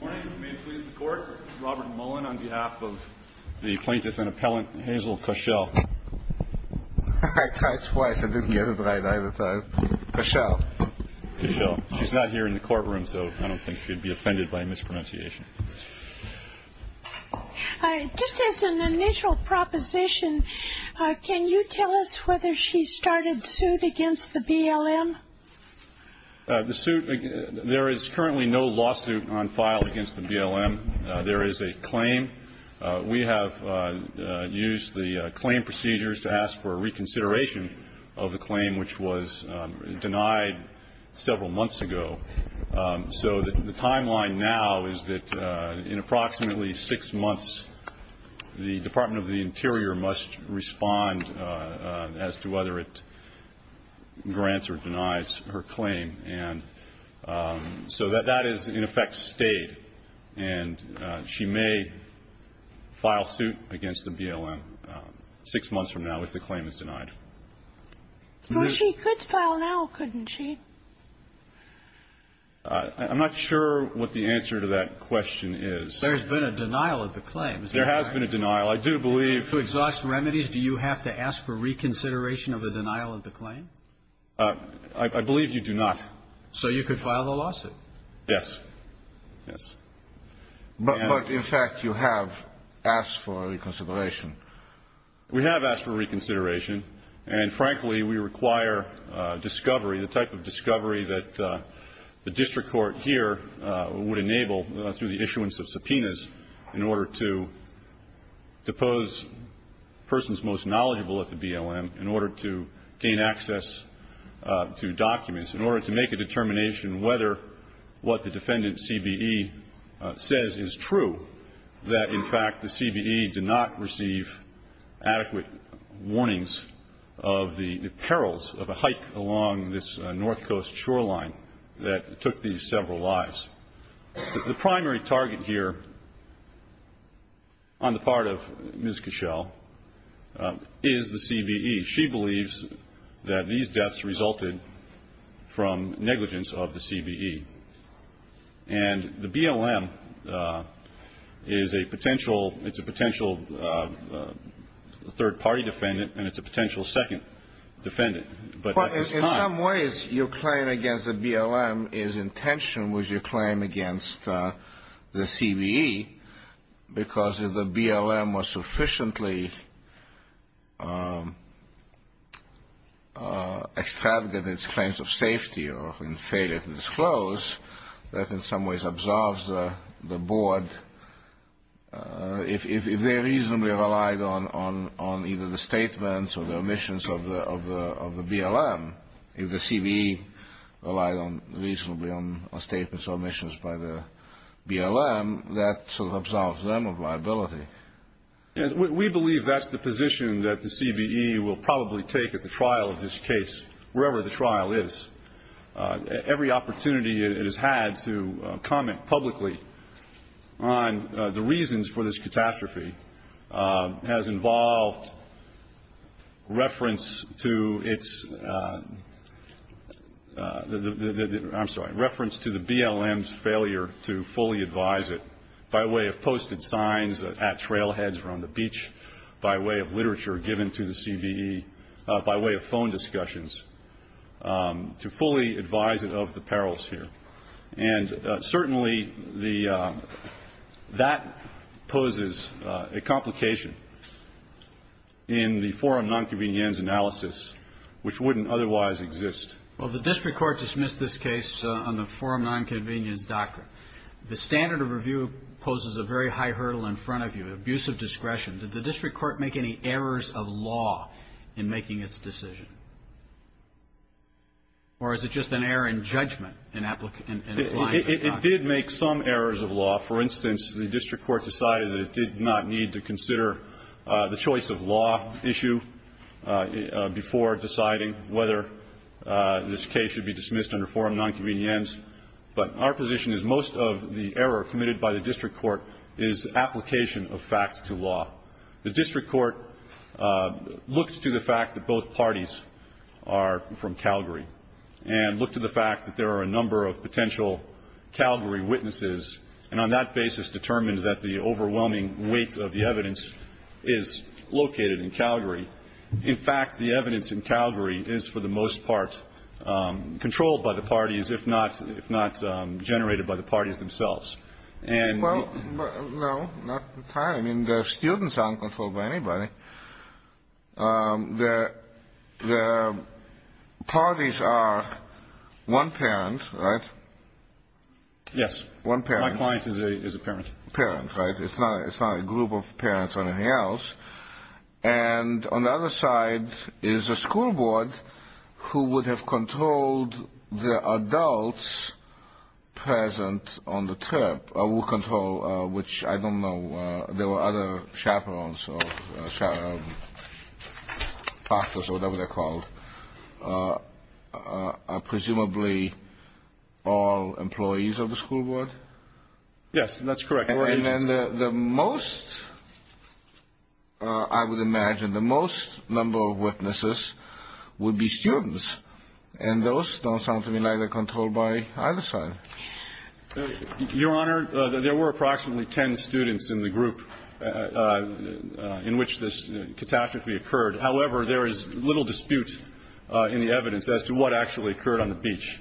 Good morning. May it please the Court, Robert Mullen on behalf of the plaintiff and appellant Hazel Koschel. I tried twice. I didn't get it right either time. Koschel. Koschel. She's not here in the courtroom, so I don't think she'd be offended by a mispronunciation. Just as an initial proposition, can you tell us whether she started suit against the BLM? The suit, there is currently no lawsuit on file against the BLM. There is a claim. We have used the claim procedures to ask for reconsideration of the claim, which was denied several months ago. So the timeline now is that in approximately six months, the Department of the Interior must respond as to whether it grants or denies her claim. And so that is, in effect, stayed. And she may file suit against the BLM six months from now if the claim is denied. Well, she could file now, couldn't she? I'm not sure what the answer to that question is. There's been a denial of the claim. There has been a denial. I do believe to exhaust remedies, do you have to ask for reconsideration of the denial of the claim? I believe you do not. So you could file the lawsuit? Yes. Yes. But, in fact, you have asked for reconsideration. We have asked for reconsideration, and, frankly, we require discovery, the type of discovery that the district court here would enable through the issuance of subpoenas in order to depose persons most knowledgeable at the BLM, in order to gain access to documents, in order to make a determination whether what the defendant CBE says is true, that, in fact, the CBE did not receive adequate warnings of the perils of a hike along this North Coast shoreline that took these several lives. The primary target here on the part of Ms. Cashel is the CBE. She believes that these deaths resulted from negligence of the CBE. And the BLM is a potential, it's a potential third-party defendant, and it's a potential second defendant. But at this time. Well, in some ways, your claim against the BLM is in tension with your claim against the CBE, because if the BLM was sufficiently extravagant in its claims of safety or in failure to disclose, that in some ways absorbs the board. If they reasonably relied on either the statements or the omissions of the BLM, if the CBE relied reasonably on statements or omissions by the BLM, that sort of absolves them of liability. We believe that's the position that the CBE will probably take at the trial of this case, wherever the trial is. Every opportunity it has had to comment publicly on the reasons for this catastrophe has involved reference to its, I'm sorry, reference to the BLM's failure to fully advise it by way of posted signs at trailheads around the beach, by way of literature given to the CBE, by way of phone discussions, to fully advise it of the perils here. And certainly that poses a complication in the forum nonconvenience analysis, which wouldn't otherwise exist. Well, the district court dismissed this case on the forum nonconvenience doctrine. The standard of review poses a very high hurdle in front of you, abusive discretion. Did the district court make any errors of law in making its decision? Or is it just an error in judgment in applying the doctrine? It did make some errors of law. For instance, the district court decided that it did not need to consider the choice of law issue before deciding whether this case should be dismissed under forum nonconvenience. But our position is most of the error committed by the district court is application of facts to law. The district court looked to the fact that both parties are from Calgary and looked to the fact that there are a number of potential Calgary witnesses and on that basis determined that the overwhelming weight of the evidence is located in Calgary. In fact, the evidence in Calgary is for the most part controlled by the parties, if not generated by the parties themselves. Well, no, not entirely. I mean, the students aren't controlled by anybody. The parties are one parent, right? Yes. One parent. My client is a parent. Parent, right. It's not a group of parents or anything else. And on the other side is a school board who would have controlled the adults present on the trip, or will control, which I don't know. There were other chaperones or factors or whatever they're called. Presumably all employees of the school board? Yes, that's correct. And then the most, I would imagine, the most number of witnesses would be students, and those don't sound to me like they're controlled by either side. Your Honor, there were approximately ten students in the group in which this catastrophe occurred. However, there is little dispute in the evidence as to what actually occurred on the beach.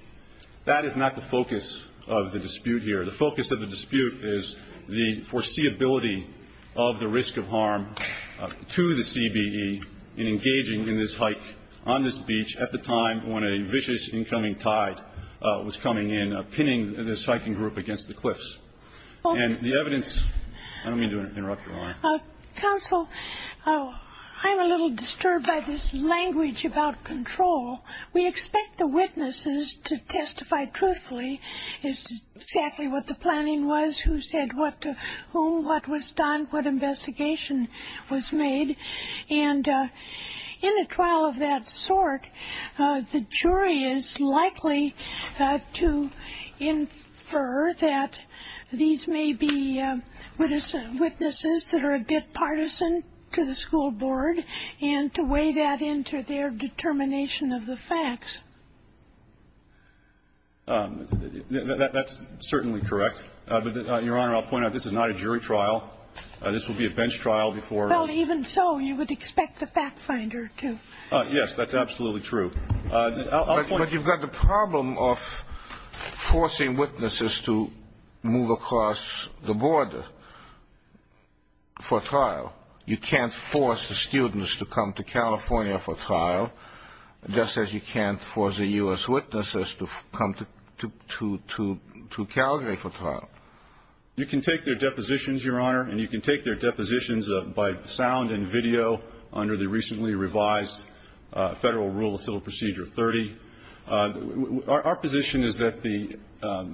That is not the focus of the dispute here. The focus of the dispute is the foreseeability of the risk of harm to the CBE in engaging in this hike on this beach at the time when a vicious incoming tide was coming in, pinning this hiking group against the cliffs. And the evidence – I don't mean to interrupt, Your Honor. Counsel, I'm a little disturbed by this language about control. We expect the witnesses to testify truthfully as to exactly what the planning was, who said what to whom, what was done, what investigation was made. And in a trial of that sort, the jury is likely to infer that these may be witnesses that are a bit partisan to the school board and to weigh that into their determination of the facts. That's certainly correct. But, Your Honor, I'll point out this is not a jury trial. This would be a bench trial before – Well, even so, you would expect the fact finder to – I'll point – But you've got the problem of forcing witnesses to move across the border for trial. You can't force the students to come to California for trial, just as you can't force the U.S. witnesses to come to Calgary for trial. You can take their depositions, Your Honor, and you can take their depositions by sound and video under the recently revised Federal Rule of Civil Procedure 30. Our position is that the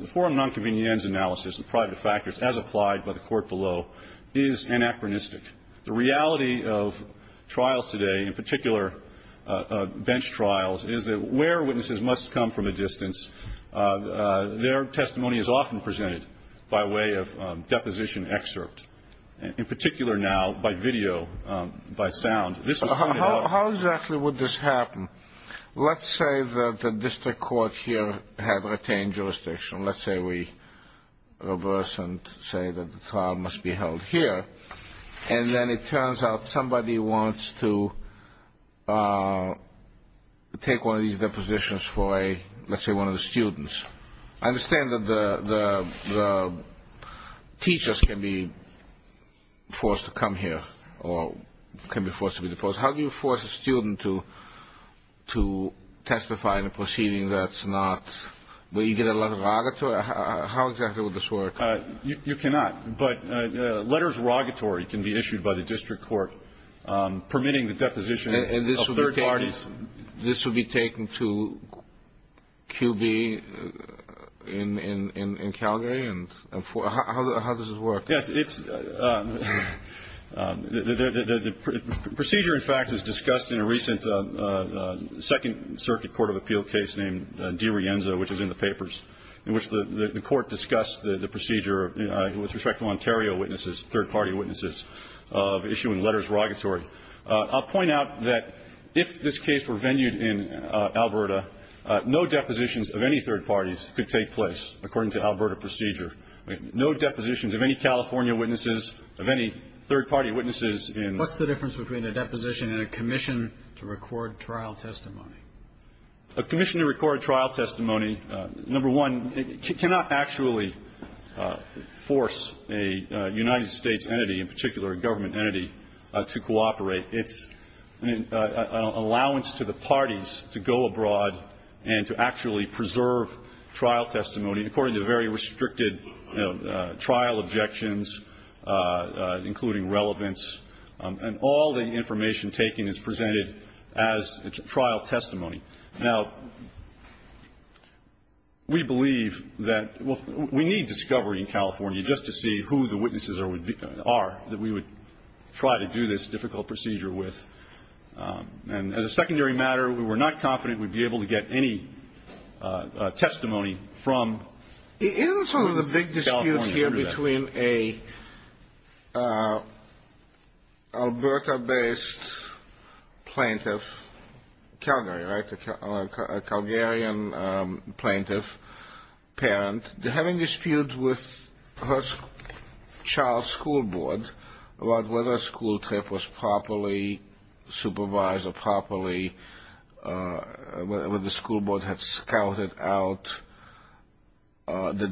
forum nonconvenience analysis, the private factors, as applied by the Court below, is anachronistic. The reality of trials today, in particular bench trials, their testimony is often presented by way of deposition excerpt. In particular now, by video, by sound. How exactly would this happen? Let's say that the district court here had retained jurisdiction. Let's say we reverse and say that the trial must be held here. And then it turns out somebody wants to take one of these depositions for, let's say, one of the students. I understand that the teachers can be forced to come here or can be forced to be deposed. How do you force a student to testify in a proceeding that's not – where you get a lot of rogatory? How exactly would this work? You cannot. But letters rogatory can be issued by the district court permitting the deposition of third parties. And this would be taken to QB in Calgary? How does this work? Yes, it's – the procedure, in fact, is discussed in a recent Second Circuit Court of Appeal case named Di Rienzo, which is in the papers, in which the court discussed the procedure with respect to Ontario witnesses, third-party witnesses, of issuing letters rogatory. I'll point out that if this case were venued in Alberta, no depositions of any third parties could take place according to Alberta procedure. No depositions of any California witnesses, of any third-party witnesses in – What's the difference between a deposition and a commission to record trial testimony? A commission to record trial testimony, number one, cannot actually force a United States entity, in particular a government entity, to cooperate. It's an allowance to the parties to go abroad and to actually preserve trial testimony according to very restricted trial objections, including relevance. And all the information taken is presented as trial testimony. Now, we believe that – we need discovery in California just to see who the witnesses are that we would try to do this difficult procedure with. And as a secondary matter, we're not confident we'd be able to get any testimony from California under that. Isn't it sort of a big dispute here between a Alberta-based plaintiff – Calgary, right? A Calgarian plaintiff parent having disputes with her child's school board about whether a school trip was properly supervised or properly – the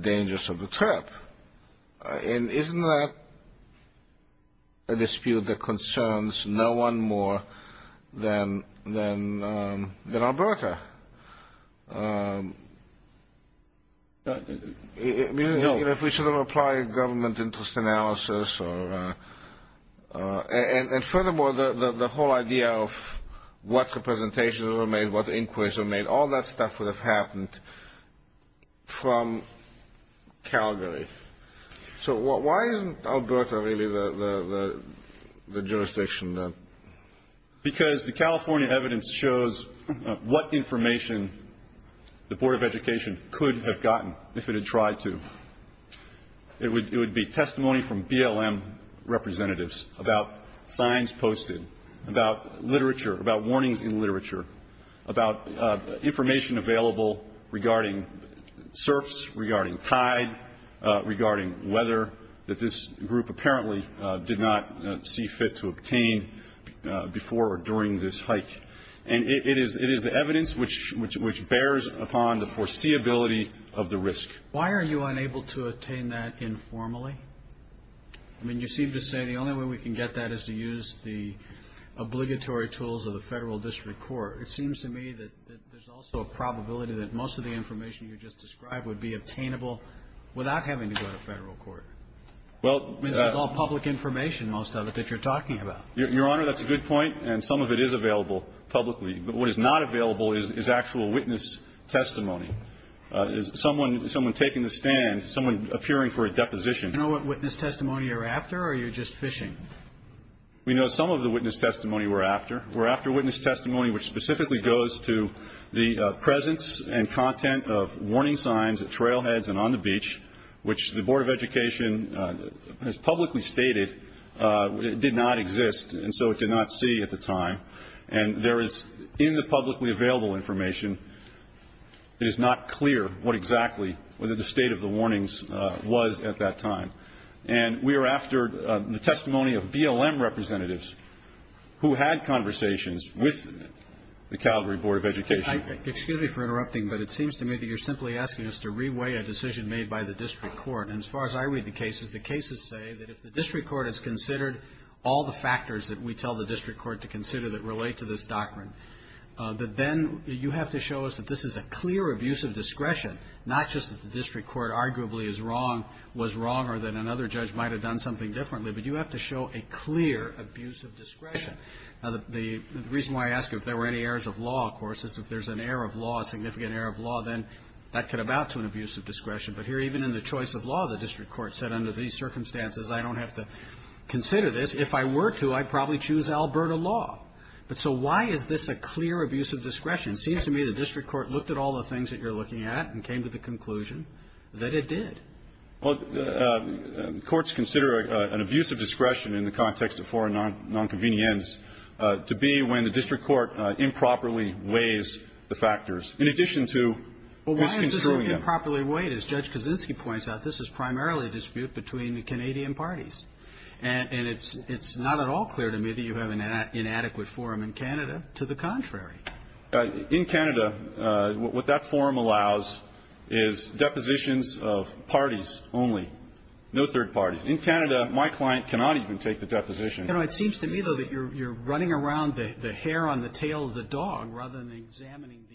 dangers of the trip. And isn't that a dispute that concerns no one more than Alberta? I mean, if we sort of apply a government interest analysis or – and furthermore, the whole idea of what representations were made, what inquiries were made, all that stuff would have happened from Calgary. So why isn't Alberta really the jurisdiction? Because the California evidence shows what information the Board of Education could have gotten if it had tried to. It would be testimony from BLM representatives about signs posted, about literature, about warnings in literature, about information available regarding surfs, regarding tide, regarding weather that this group apparently did not see fit to obtain before or during this hike. And it is the evidence which bears upon the foreseeability of the risk. Why are you unable to attain that informally? I mean, you seem to say the only way we can get that is to use the obligatory tools of the Federal district court. It seems to me that there's also a probability that most of the information you just described would be obtainable without having to go to Federal court. I mean, that's all public information, most of it, that you're talking about. Your Honor, that's a good point, and some of it is available publicly. But what is not available is actual witness testimony. Someone taking the stand, someone appearing for a deposition. Do you know what witness testimony you're after, or are you just fishing? We know some of the witness testimony we're after. We're after witness testimony which specifically goes to the presence and content of warning signs at trailheads and on the beach, which the Board of Education has publicly stated did not exist, and so it did not see at the time. And there is, in the publicly available information, it is not clear what exactly or the state of the warnings was at that time. And we are after the testimony of BLM representatives who had conversations with the Calgary Board of Education. Excuse me for interrupting, but it seems to me that you're simply asking us to reweigh a decision made by the district court. And as far as I read the cases, the cases say that if the district court has considered all the factors that we tell the district court to consider that relate to this doctrine, that then you have to show us that this is a clear abuse of discretion, not just that the district court arguably is wrong, was wrong, or that another judge might have done something differently, but you have to show a clear abuse of discretion. Now, the reason why I ask if there were any errors of law, of course, is if there's an error of law, a significant error of law, then that could amount to an abuse of discretion. But here, even in the choice of law, the district court said, under these circumstances, I don't have to consider this. If I were to, I'd probably choose Alberta law. But so why is this a clear abuse of discretion? It seems to me the district court looked at all the things that you're looking at and came to the conclusion that it did. Well, courts consider an abuse of discretion in the context of foreign nonconvenience to be when the district court improperly weighs the factors, in addition to misconstruing them. But if you improperly weight, as Judge Kaczynski points out, this is primarily a dispute between the Canadian parties. And it's not at all clear to me that you have an inadequate forum in Canada. To the contrary. In Canada, what that forum allows is depositions of parties only, no third parties. In Canada, my client cannot even take the deposition. It seems to me, though, that you're running around the hair on the tail of the dog rather than examining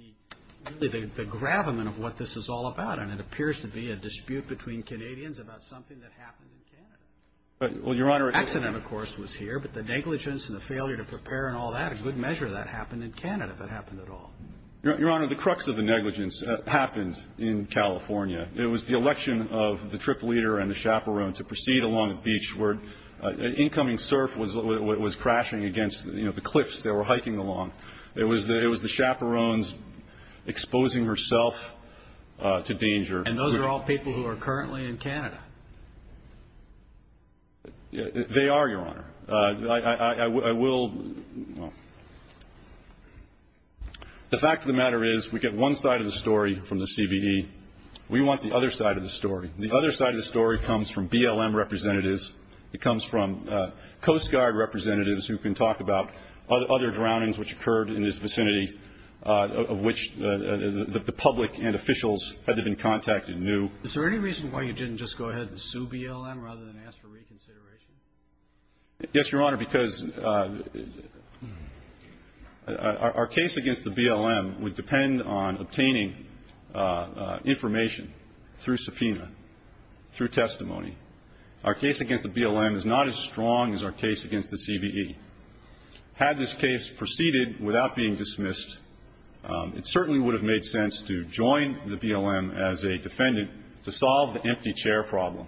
the gravamen of what this is all about. And it appears to be a dispute between Canadians about something that happened in Canada. Well, Your Honor, it is. Accident, of course, was here. But the negligence and the failure to prepare and all that, a good measure of that happened in Canada, if it happened at all. Your Honor, the crux of the negligence happened in California. It was the election of the trip leader and the chaperone to proceed along a beach where incoming surf was crashing against, you know, the cliffs they were hiking along. It was the chaperones exposing herself to danger. And those are all people who are currently in Canada. They are, Your Honor. I will – the fact of the matter is we get one side of the story from the CBE. We want the other side of the story. The other side of the story comes from BLM representatives. It comes from Coast Guard representatives who can talk about other drownings which occurred in this vicinity of which the public and officials had to have been contacted new. Is there any reason why you didn't just go ahead and sue BLM rather than ask for reconsideration? Yes, Your Honor, because our case against the BLM would depend on obtaining information through subpoena, through testimony. Our case against the BLM is not as strong as our case against the CBE. Had this case proceeded without being dismissed, it certainly would have made sense to join the BLM as a defendant to solve the empty chair problem,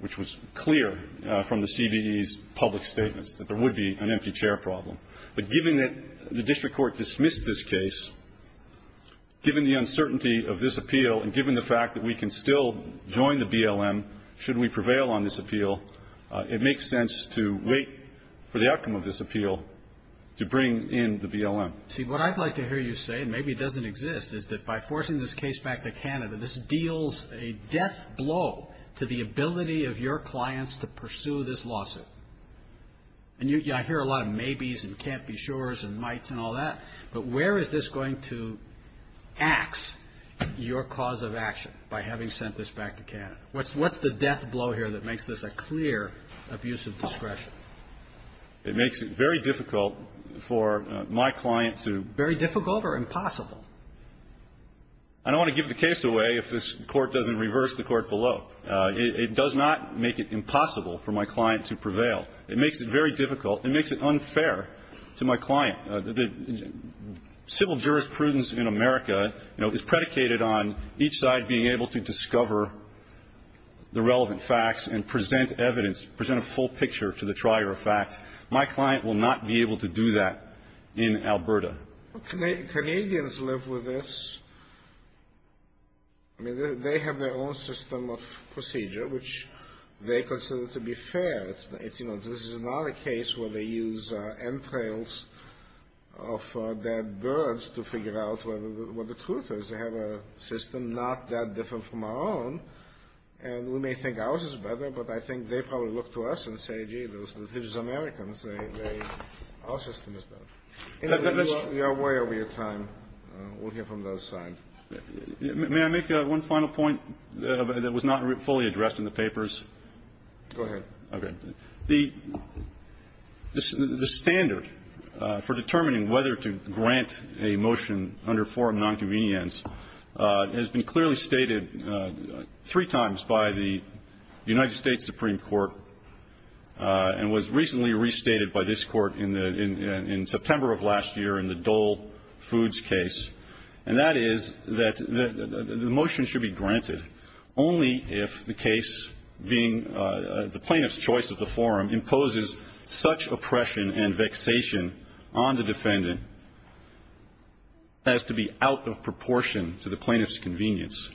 which was clear from the CBE's public statements, that there would be an empty chair problem. But given that the district court dismissed this case, given the uncertainty of this appeal and given the fact that we can still join the BLM should we prevail on this appeal, it makes sense to wait for the outcome of this appeal to bring in the BLM. See, what I'd like to hear you say, and maybe it doesn't exist, is that by forcing this case back to Canada, this deals a death blow to the ability of your clients to pursue this lawsuit. And I hear a lot of maybes and can't-be-sures and mights and all that, but where is this going to ax your cause of action by having sent this back to Canada? What's the death blow here that makes this a clear abuse of discretion? It makes it very difficult for my client to do. Very difficult or impossible? I don't want to give the case away if this Court doesn't reverse the Court below. It does not make it impossible for my client to prevail. It makes it very difficult. It makes it unfair to my client. Civil jurisprudence in America, you know, is predicated on each side being able to discover the relevant facts and present evidence, present a full picture to the trier of facts. My client will not be able to do that in Alberta. Canadians live with this. I mean, they have their own system of procedure, which they consider to be fair. You know, this is not a case where they use entrails of dead birds to figure out what the truth is. They have a system not that different from our own, and we may think ours is better, but I think they probably look to us and say, gee, these Americans, our system is better. Anyway, we are way over your time. We'll hear from those sides. May I make one final point that was not fully addressed in the papers? Go ahead. Okay. The standard for determining whether to grant a motion under forum nonconvenience has been clearly stated three times by the United States Supreme Court and was recently restated by this Court in September of last year in the Dole Foods case, and that is that the motion should be granted only if the case being the plaintiff's choice at the forum imposes such oppression and vexation on the defendant as to be out of proportion to the plaintiff's convenience,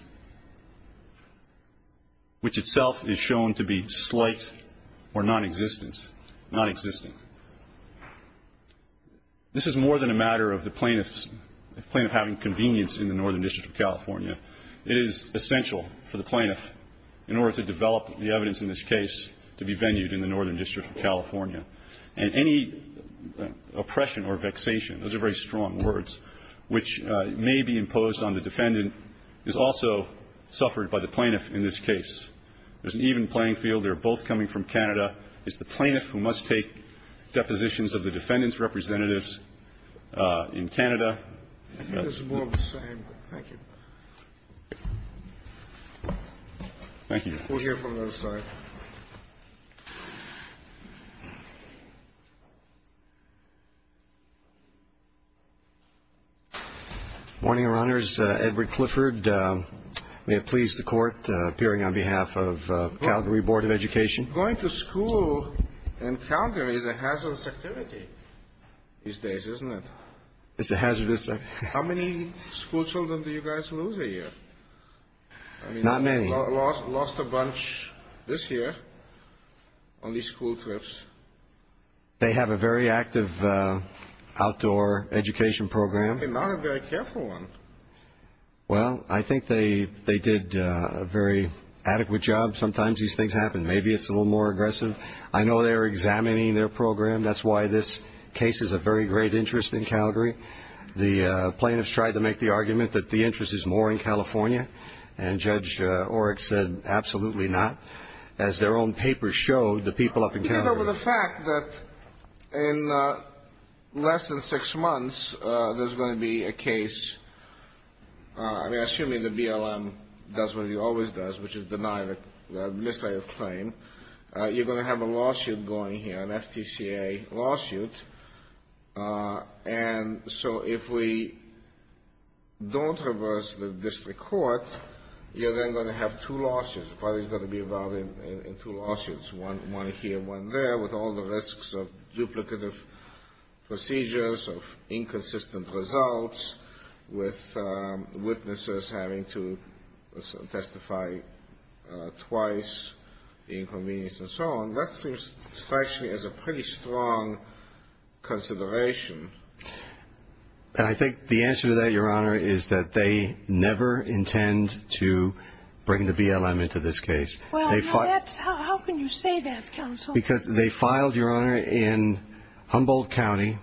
which itself is shown to be slight or nonexistent, nonexistent. This is more than a matter of the plaintiff having convenience in the Northern District of California. It is essential for the plaintiff in order to develop the evidence in this case to be venued in the Northern District of California. And any oppression or vexation, those are very strong words, which may be imposed on the defendant is also suffered by the plaintiff in this case. There's an even playing field. They're both coming from Canada. It's the plaintiff who must take depositions of the defendant's representatives in Canada. I think it's more of the same. Thank you. Thank you. We'll hear from the other side. Morning, Your Honors. Edward Clifford. May it please the Court, appearing on behalf of Calgary Board of Education. Going to school in Calgary is a hazardous activity these days, isn't it? It's a hazardous activity. How many school children do you guys lose a year? Not many. Lost a bunch this year on these school trips. They have a very active outdoor education program. Not a very careful one. Well, I think they did a very adequate job. Sometimes these things happen. Maybe it's a little more aggressive. I know they're examining their program. That's why this case is of very great interest in Calgary. The plaintiffs tried to make the argument that the interest is more in California, and Judge Oreck said, absolutely not. As their own papers showed, the people up in Calgary. He gave over the fact that in less than six months, there's going to be a case. I mean, assuming the BLM does what he always does, which is deny the misdemeanor claim, you're going to have a lawsuit going here, an FTCA lawsuit. And so if we don't reverse the district court, you're then going to have two lawsuits. Probably going to be involved in two lawsuits, one here, one there, with all the risks of duplicative procedures, of inconsistent results, with witnesses having to testify twice, the inconvenience, and so on. That seems to me as a pretty strong consideration. I think the answer to that, Your Honor, is that they never intend to bring the BLM into this case. How can you say that, counsel? Because they filed, Your Honor, in Humboldt County,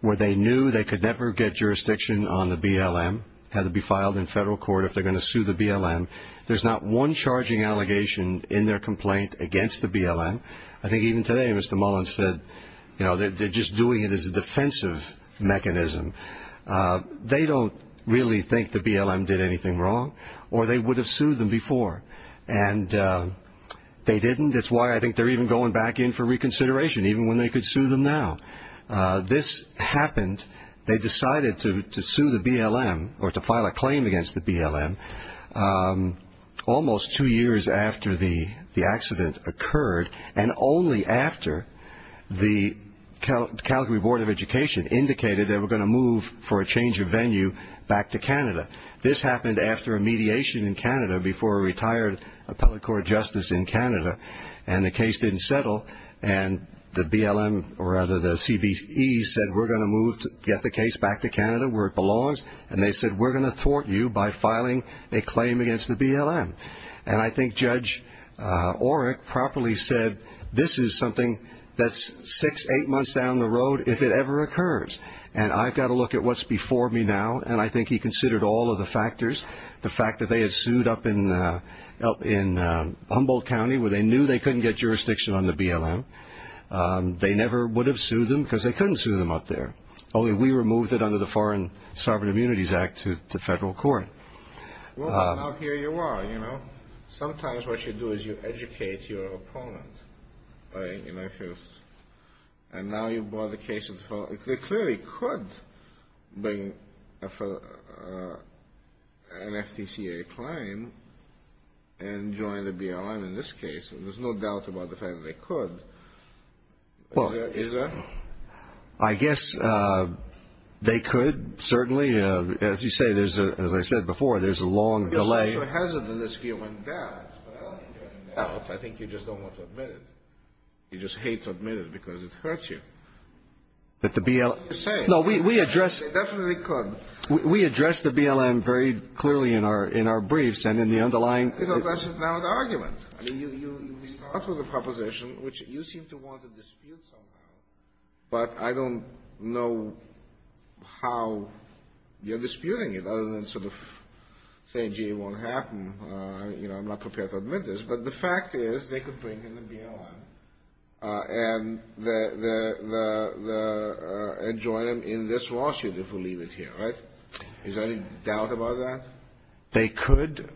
where they knew they could never get jurisdiction on the BLM. It had to be filed in federal court if they're going to sue the BLM. There's not one charging allegation in their complaint against the BLM. I think even today, Mr. Mullen said, you know, they're just doing it as a defensive mechanism. They don't really think the BLM did anything wrong, or they would have sued them before. And they didn't. That's why I think they're even going back in for reconsideration, even when they could sue them now. This happened. They decided to sue the BLM, or to file a claim against the BLM, almost two years after the accident occurred, and only after the Calgary Board of Education indicated they were going to move for a change of venue back to Canada. This happened after a mediation in Canada, before a retired appellate court justice in Canada. And the case didn't settle. And the BLM, or rather the CBE, said, we're going to move to get the case back to Canada where it belongs. And they said, we're going to thwart you by filing a claim against the BLM. And I think Judge Orrick properly said, this is something that's six, eight months down the road, if it ever occurs. And I've got to look at what's before me now. And I think he considered all of the factors, the fact that they had sued up in Humboldt County, where they knew they couldn't get jurisdiction on the BLM. They never would have sued them because they couldn't sue them up there. Only we removed it under the Foreign Sovereign Immunities Act to federal court. Well, now here you are. Sometimes what you do is you educate your opponent. And now you brought the case in front. They clearly could bring an FTCA claim and join the BLM in this case. There's no doubt about the fact that they could. Is there? I guess they could, certainly. As you say, as I said before, there's a long delay. I'm not so hesitant in this view on that. I think you just don't want to admit it. You just hate to admit it because it hurts you. But the BLM — What are you saying? No, we addressed — They definitely could. We addressed the BLM very clearly in our briefs and in the underlying — It addresses now the argument. I mean, you start with a proposition, which you seem to want to dispute somehow, but I don't know how you're disputing it other than sort of saying, gee, it won't happen. You know, I'm not prepared to admit this. But the fact is they could bring in the BLM and join them in this lawsuit if we leave it here, right? Is there any doubt about that? They could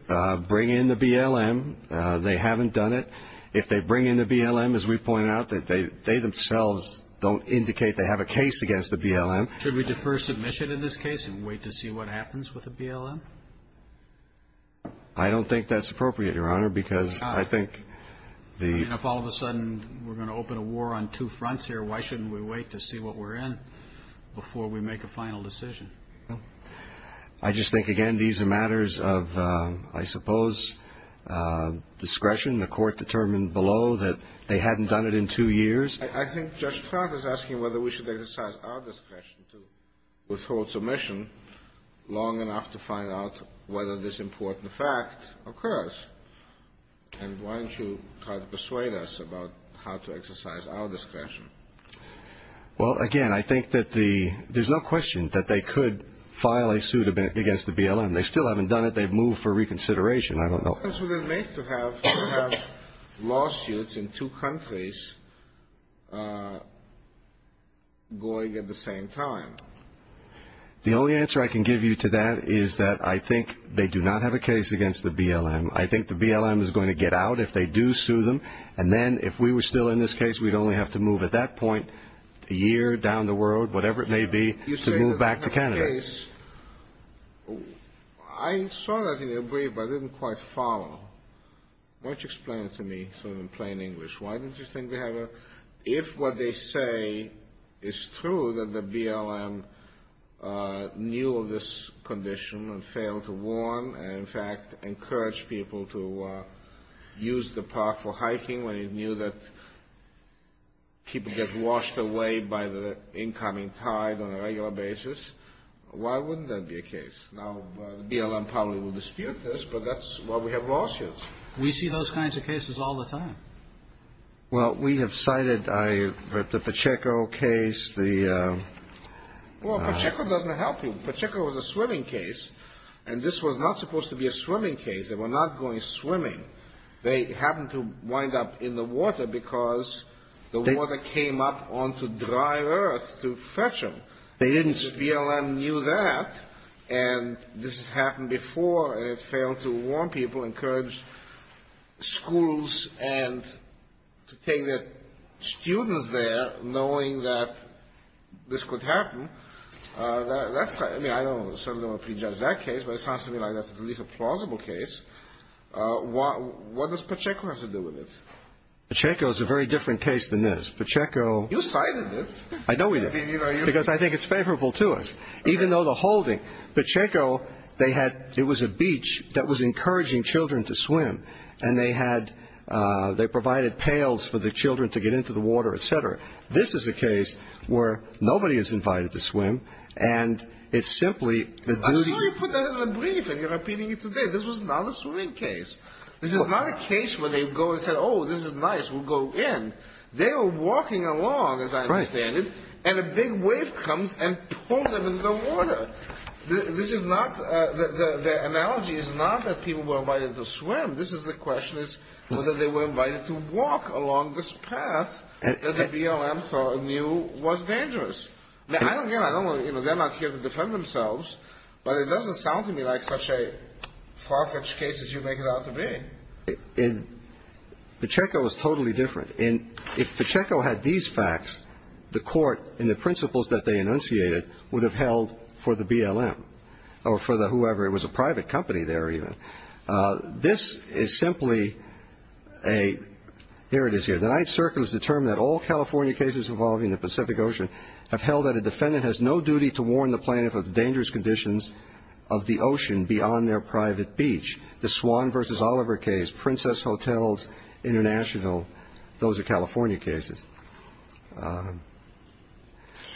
bring in the BLM. They haven't done it. If they bring in the BLM, as we pointed out, they themselves don't indicate they have a case against the BLM. Should we defer submission in this case and wait to see what happens with the BLM? I don't think that's appropriate, Your Honor, because I think the — I mean, if all of a sudden we're going to open a war on two fronts here, why shouldn't we wait to see what we're in before we make a final decision? I just think, again, these are matters of, I suppose, discretion. The Court determined below that they hadn't done it in two years. I think Judge Clark is asking whether we should exercise our discretion to withhold submission long enough to find out whether this important fact occurs. And why don't you try to persuade us about how to exercise our discretion? Well, again, I think that the — there's no question that they could file a suit against the BLM. They still haven't done it. They've moved for reconsideration. I don't know. What does it make to have lawsuits in two countries going at the same time? The only answer I can give you to that is that I think they do not have a case against the BLM. I think the BLM is going to get out if they do sue them. And then if we were still in this case, we'd only have to move at that point a year down the world, whatever it may be, to move back to Canada. You say that they have a case. I saw that in your brief, but I didn't quite follow. Why don't you explain it to me sort of in plain English? Why don't you think they have a — if what they say is true, that the BLM knew of this condition and failed to warn, and, in fact, encourage people to use the park for hiking when it knew that people get washed away by the incoming tide on a regular basis, why wouldn't there be a case? Now, the BLM probably will dispute this, but that's why we have lawsuits. We see those kinds of cases all the time. Well, we have cited the Pacheco case, the — Well, Pacheco doesn't help you. And this was not supposed to be a swimming case. They were not going swimming. They happened to wind up in the water because the water came up onto dry earth to fetch them. They didn't — The BLM knew that, and this has happened before, and it failed to warn people, encourage schools and to take their students there, knowing that this could happen. I mean, I certainly don't want to prejudge that case, but it sounds to me like that's at least a plausible case. What does Pacheco have to do with it? Pacheco is a very different case than this. Pacheco — You cited it. I know we did. Because I think it's favorable to us. Even though the holding — Pacheco, they had — it was a beach that was encouraging children to swim, and they had — they provided pails for the children to get into the water, et cetera. However, this is a case where nobody is invited to swim, and it's simply the duty — I'm sure you put that in the brief and you're repeating it today. This was not a swimming case. This is not a case where they go and say, oh, this is nice, we'll go in. They were walking along, as I understand it, and a big wave comes and pulls them into the water. This is not — the analogy is not that people were invited to swim. This is the question is whether they were invited to walk along this path that the BLM thought or knew was dangerous. Now, again, I don't want to — you know, they're not here to defend themselves, but it doesn't sound to me like such a far-fetched case as you make it out to be. And Pacheco is totally different. And if Pacheco had these facts, the Court and the principles that they enunciated would have held for the BLM or for the whoever — it was a private company there, even. This is simply a — here it is here. The Ninth Circle has determined that all California cases involving the Pacific Ocean have held that a defendant has no duty to warn the plaintiff of the dangerous conditions of the ocean beyond their private beach. The Swan v. Oliver case, Princess Hotels International, those are California cases.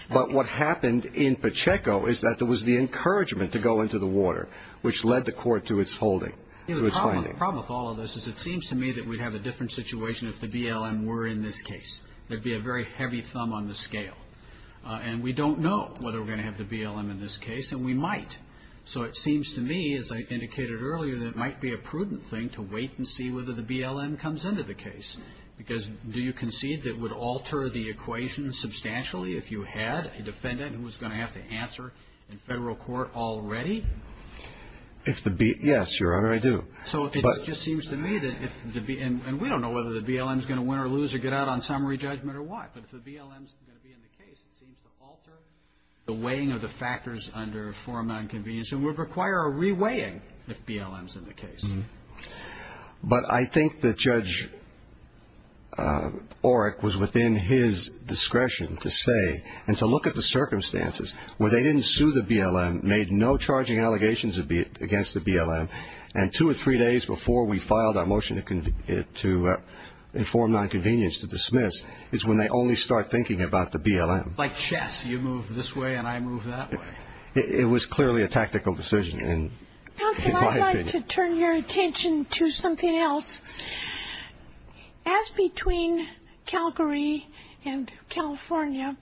But what happened in Pacheco is that there was the encouragement to go into the water, which led the Court to its holding, to its finding. The problem with all of this is it seems to me that we'd have a different situation if the BLM were in this case. There'd be a very heavy thumb on the scale. And we don't know whether we're going to have the BLM in this case, and we might. So it seems to me, as I indicated earlier, that it might be a prudent thing to wait and see whether the BLM comes into the case, because do you concede that it would alter the equation substantially if you had a defendant who was going to have to answer in federal court already? If the — yes, Your Honor, I do. So it just seems to me that if the — and we don't know whether the BLM is going to win or lose or get out on summary judgment or what. But if the BLM is going to be in the case, it seems to alter the weighing of the factors under form of inconvenience and would require a re-weighing if BLM is in the case. But I think that Judge Oreck was within his discretion to say and to look at the circumstances where they didn't sue the BLM, made no charging allegations against the BLM, and two or three days before we filed our motion to inform nonconvenience to dismiss is when they only start thinking about the BLM. Like chess, you move this way and I move that way. It was clearly a tactical decision in my opinion. To turn your attention to something else, as between Calgary and California,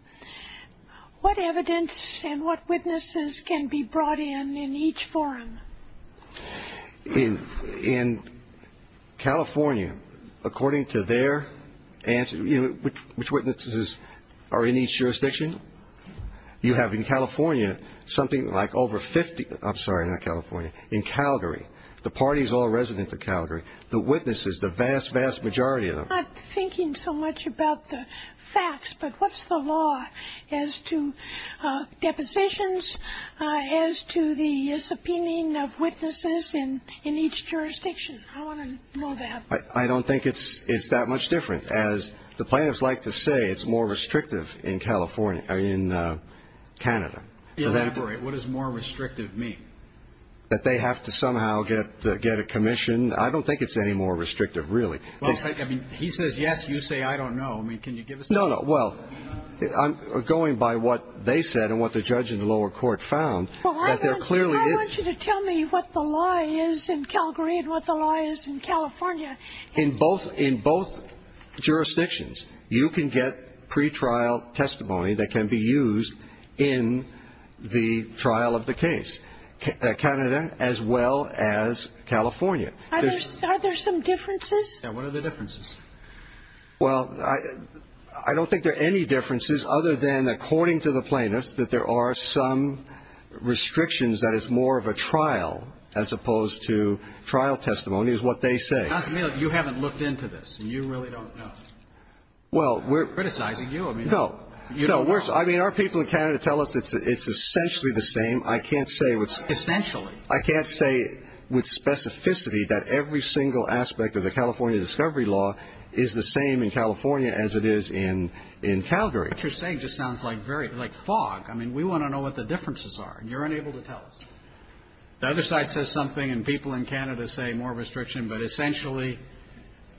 what evidence and what witnesses can be brought in in each forum? In California, according to their — which witnesses are in each jurisdiction? You have in California something like over 50 — I'm sorry, not California. In Calgary, the parties all resident to Calgary, the witnesses, the vast, vast majority of them. I'm not thinking so much about the facts, but what's the law as to depositions, as to the subpoenaing of witnesses in each jurisdiction? I want to know that. I don't think it's that much different. As the plaintiffs like to say, it's more restrictive in California — in Canada. Elaborate. What does more restrictive mean? That they have to somehow get a commission? I don't think it's any more restrictive, really. Well, I mean, he says yes, you say I don't know. I mean, can you give us that? No, no. Well, going by what they said and what the judge in the lower court found, that there clearly is — Well, I want you to tell me what the law is in Calgary and what the law is in California. In both — in both jurisdictions, you can get pretrial testimony that can be used in the trial of the case, Canada as well as California. Are there some differences? Yeah. What are the differences? Well, I don't think there are any differences other than, according to the plaintiffs, that there are some restrictions, that it's more of a trial as opposed to trial testimony, is what they say. Johnson, you haven't looked into this, and you really don't know. Well, we're — Criticizing you. No. You don't know. No. I mean, our people in Canada tell us it's essentially the same. I can't say what's — Essentially. I can't say with specificity that every single aspect of the California discovery law is the same in California as it is in Calgary. What you're saying just sounds like fog. I mean, we want to know what the differences are, and you're unable to tell us. The other side says something, and people in Canada say more restriction, but essentially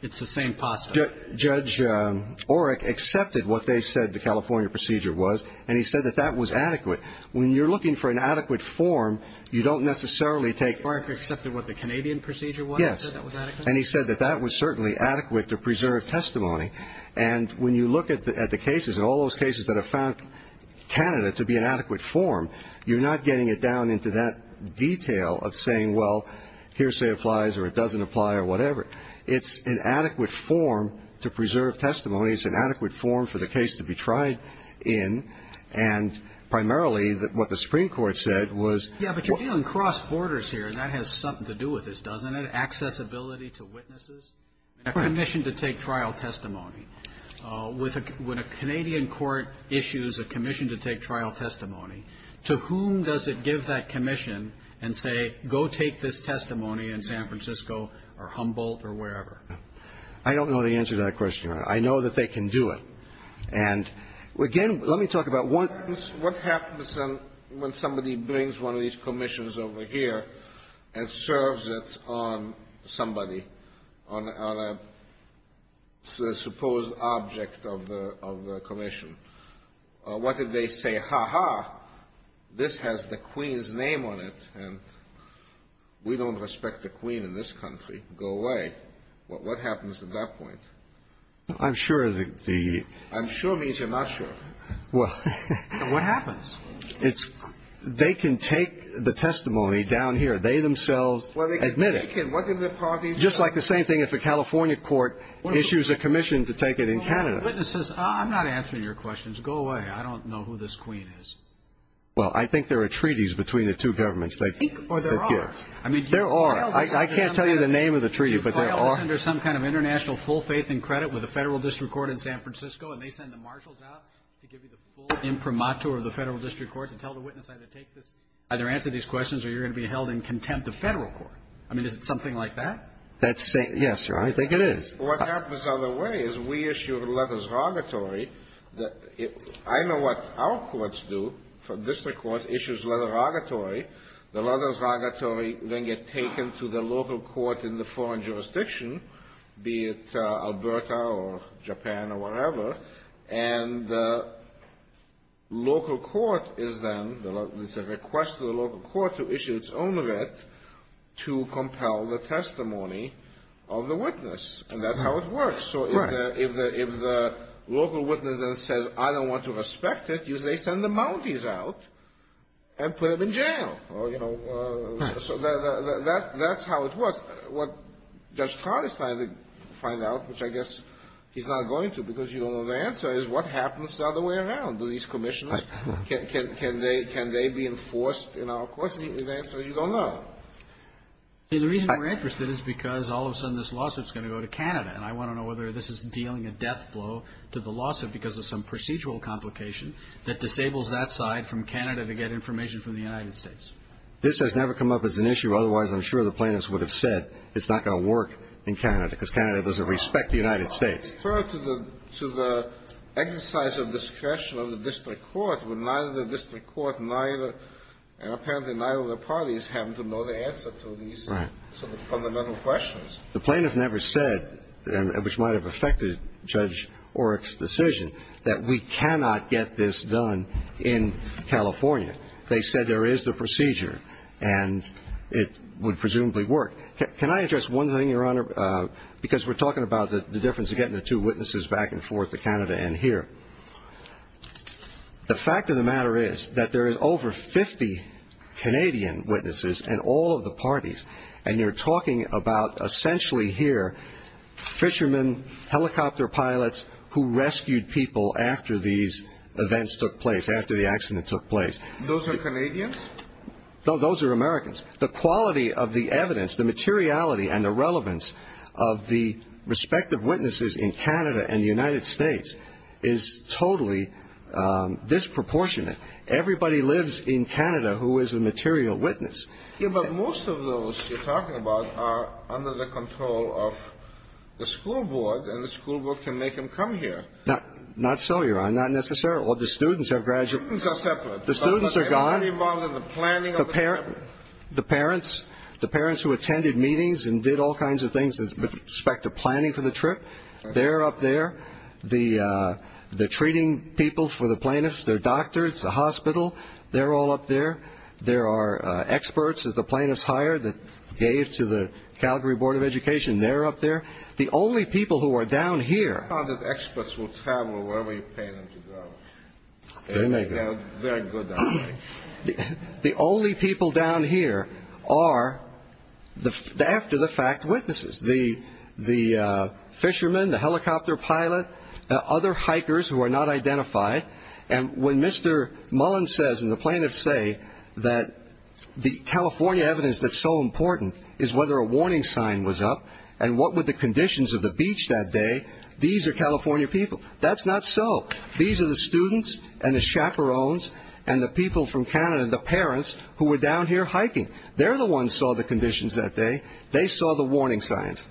it's the same posture. Judge Oreck accepted what they said the California procedure was, and he said that that was adequate. When you're looking for an adequate form, you don't necessarily take — Oreck accepted what the Canadian procedure was and said that was adequate? Yes. And he said that that was certainly adequate to preserve testimony. And when you look at the cases and all those cases that have found Canada to be an adequate form, you're not getting it down into that detail of saying, well, hearsay applies or it doesn't apply or whatever. It's an adequate form to preserve testimony. It's an adequate form for the case to be tried in. And primarily what the Supreme Court said was — Yeah, but you're dealing cross-borders here. That has something to do with this, doesn't it? Accessibility to witnesses, a commission to take trial testimony. When a Canadian court issues a commission to take trial testimony, to whom does it give that commission and say, go take this testimony in San Francisco or Humboldt or wherever? I don't know the answer to that question, Your Honor. I know that they can do it. And, again, let me talk about what happens when somebody brings one of these commissions over here and serves it on somebody, on a supposed object of the commission. What if they say, ha-ha, this has the Queen's name on it, and we don't respect the Queen in this country. Go away. What happens at that point? I'm sure the — I'm sure means you're not sure. Well, what happens? It's — they can take the testimony down here. They themselves admit it. Well, they can take it. What do the parties say? Just like the same thing if a California court issues a commission to take it in Canada. Witnesses, I'm not answering your questions. Go away. I don't know who this Queen is. Well, I think there are treaties between the two governments. Or there are. There are. I can't tell you the name of the treaty, but there are. You file this under some kind of international full faith and credit with a federal district court in San Francisco, and they send the marshals out to give you the full imprimatur of the federal district court to tell the witness either take this, either answer these questions or you're going to be held in contempt of federal court. I mean, is it something like that? That's — yes, Your Honor. I think it is. What happens on the way is we issue a letter of erogatory. I know what our courts do. The district court issues a letter of erogatory. The letter of erogatory then gets taken to the local court in the foreign jurisdiction, be it Alberta or Japan or wherever, and the local court is then — it's a request to the local court to issue its own writ to compel the testimony of the witness. And that's how it works. Right. So if the local witness then says, I don't want to respect it, usually they send the Mounties out and put him in jail. Right. So that's how it works. Well, what Judge Todd is trying to find out, which I guess he's not going to because you don't know the answer, is what happens the other way around? Do these commissioners — can they be enforced in our courts? The answer is you don't know. The reason we're interested is because all of a sudden this lawsuit is going to go to Canada, and I want to know whether this is dealing a death blow to the lawsuit because of some procedural complication that disables that side from Canada to get information from the United States. This has never come up as an issue. Otherwise, I'm sure the plaintiffs would have said it's not going to work in Canada because Canada doesn't respect the United States. But I refer to the exercise of discretion of the district court when neither the district court, neither — and apparently neither of the parties happen to know the answer to these sort of fundamental questions. The plaintiff never said, which might have affected Judge Oreck's decision, that we cannot get this done in California. They said there is the procedure, and it would presumably work. Can I address one thing, Your Honor, because we're talking about the difference of getting the two witnesses back and forth to Canada and here? The fact of the matter is that there is over 50 Canadian witnesses in all of the parties, and they're talking about essentially here fishermen, helicopter pilots who rescued people after these events took place, after the accident took place. And those are Canadians? No, those are Americans. The quality of the evidence, the materiality and the relevance of the respective witnesses in Canada and the United States is totally disproportionate. Everybody lives in Canada who is a material witness. Yeah, but most of those you're talking about are under the control of the school board, and the school board can make them come here. Not so, Your Honor, not necessarily. The students are gone. The parents who attended meetings and did all kinds of things with respect to planning for the trip, they're up there. The treating people for the plaintiffs, their doctors, the hospital, they're all up there. There are experts that the plaintiffs hired that gave to the Calgary Board of Education. They're up there. The only people who are down here... I found that experts will travel wherever you pay them to go. Very good. The only people down here are the after-the-fact witnesses, the fishermen, the helicopter pilot, other hikers who are not identified. And when Mr. Mullen says, and the plaintiffs say that the California evidence that's so important is whether a warning sign was up, and what would the Canadians do? They saw the conditions of the beach that day. These are California people. That's not so. These are the students and the chaperones and the people from Canada, the parents who were down here hiking. They're the ones who saw the conditions that day. They saw the warning signs.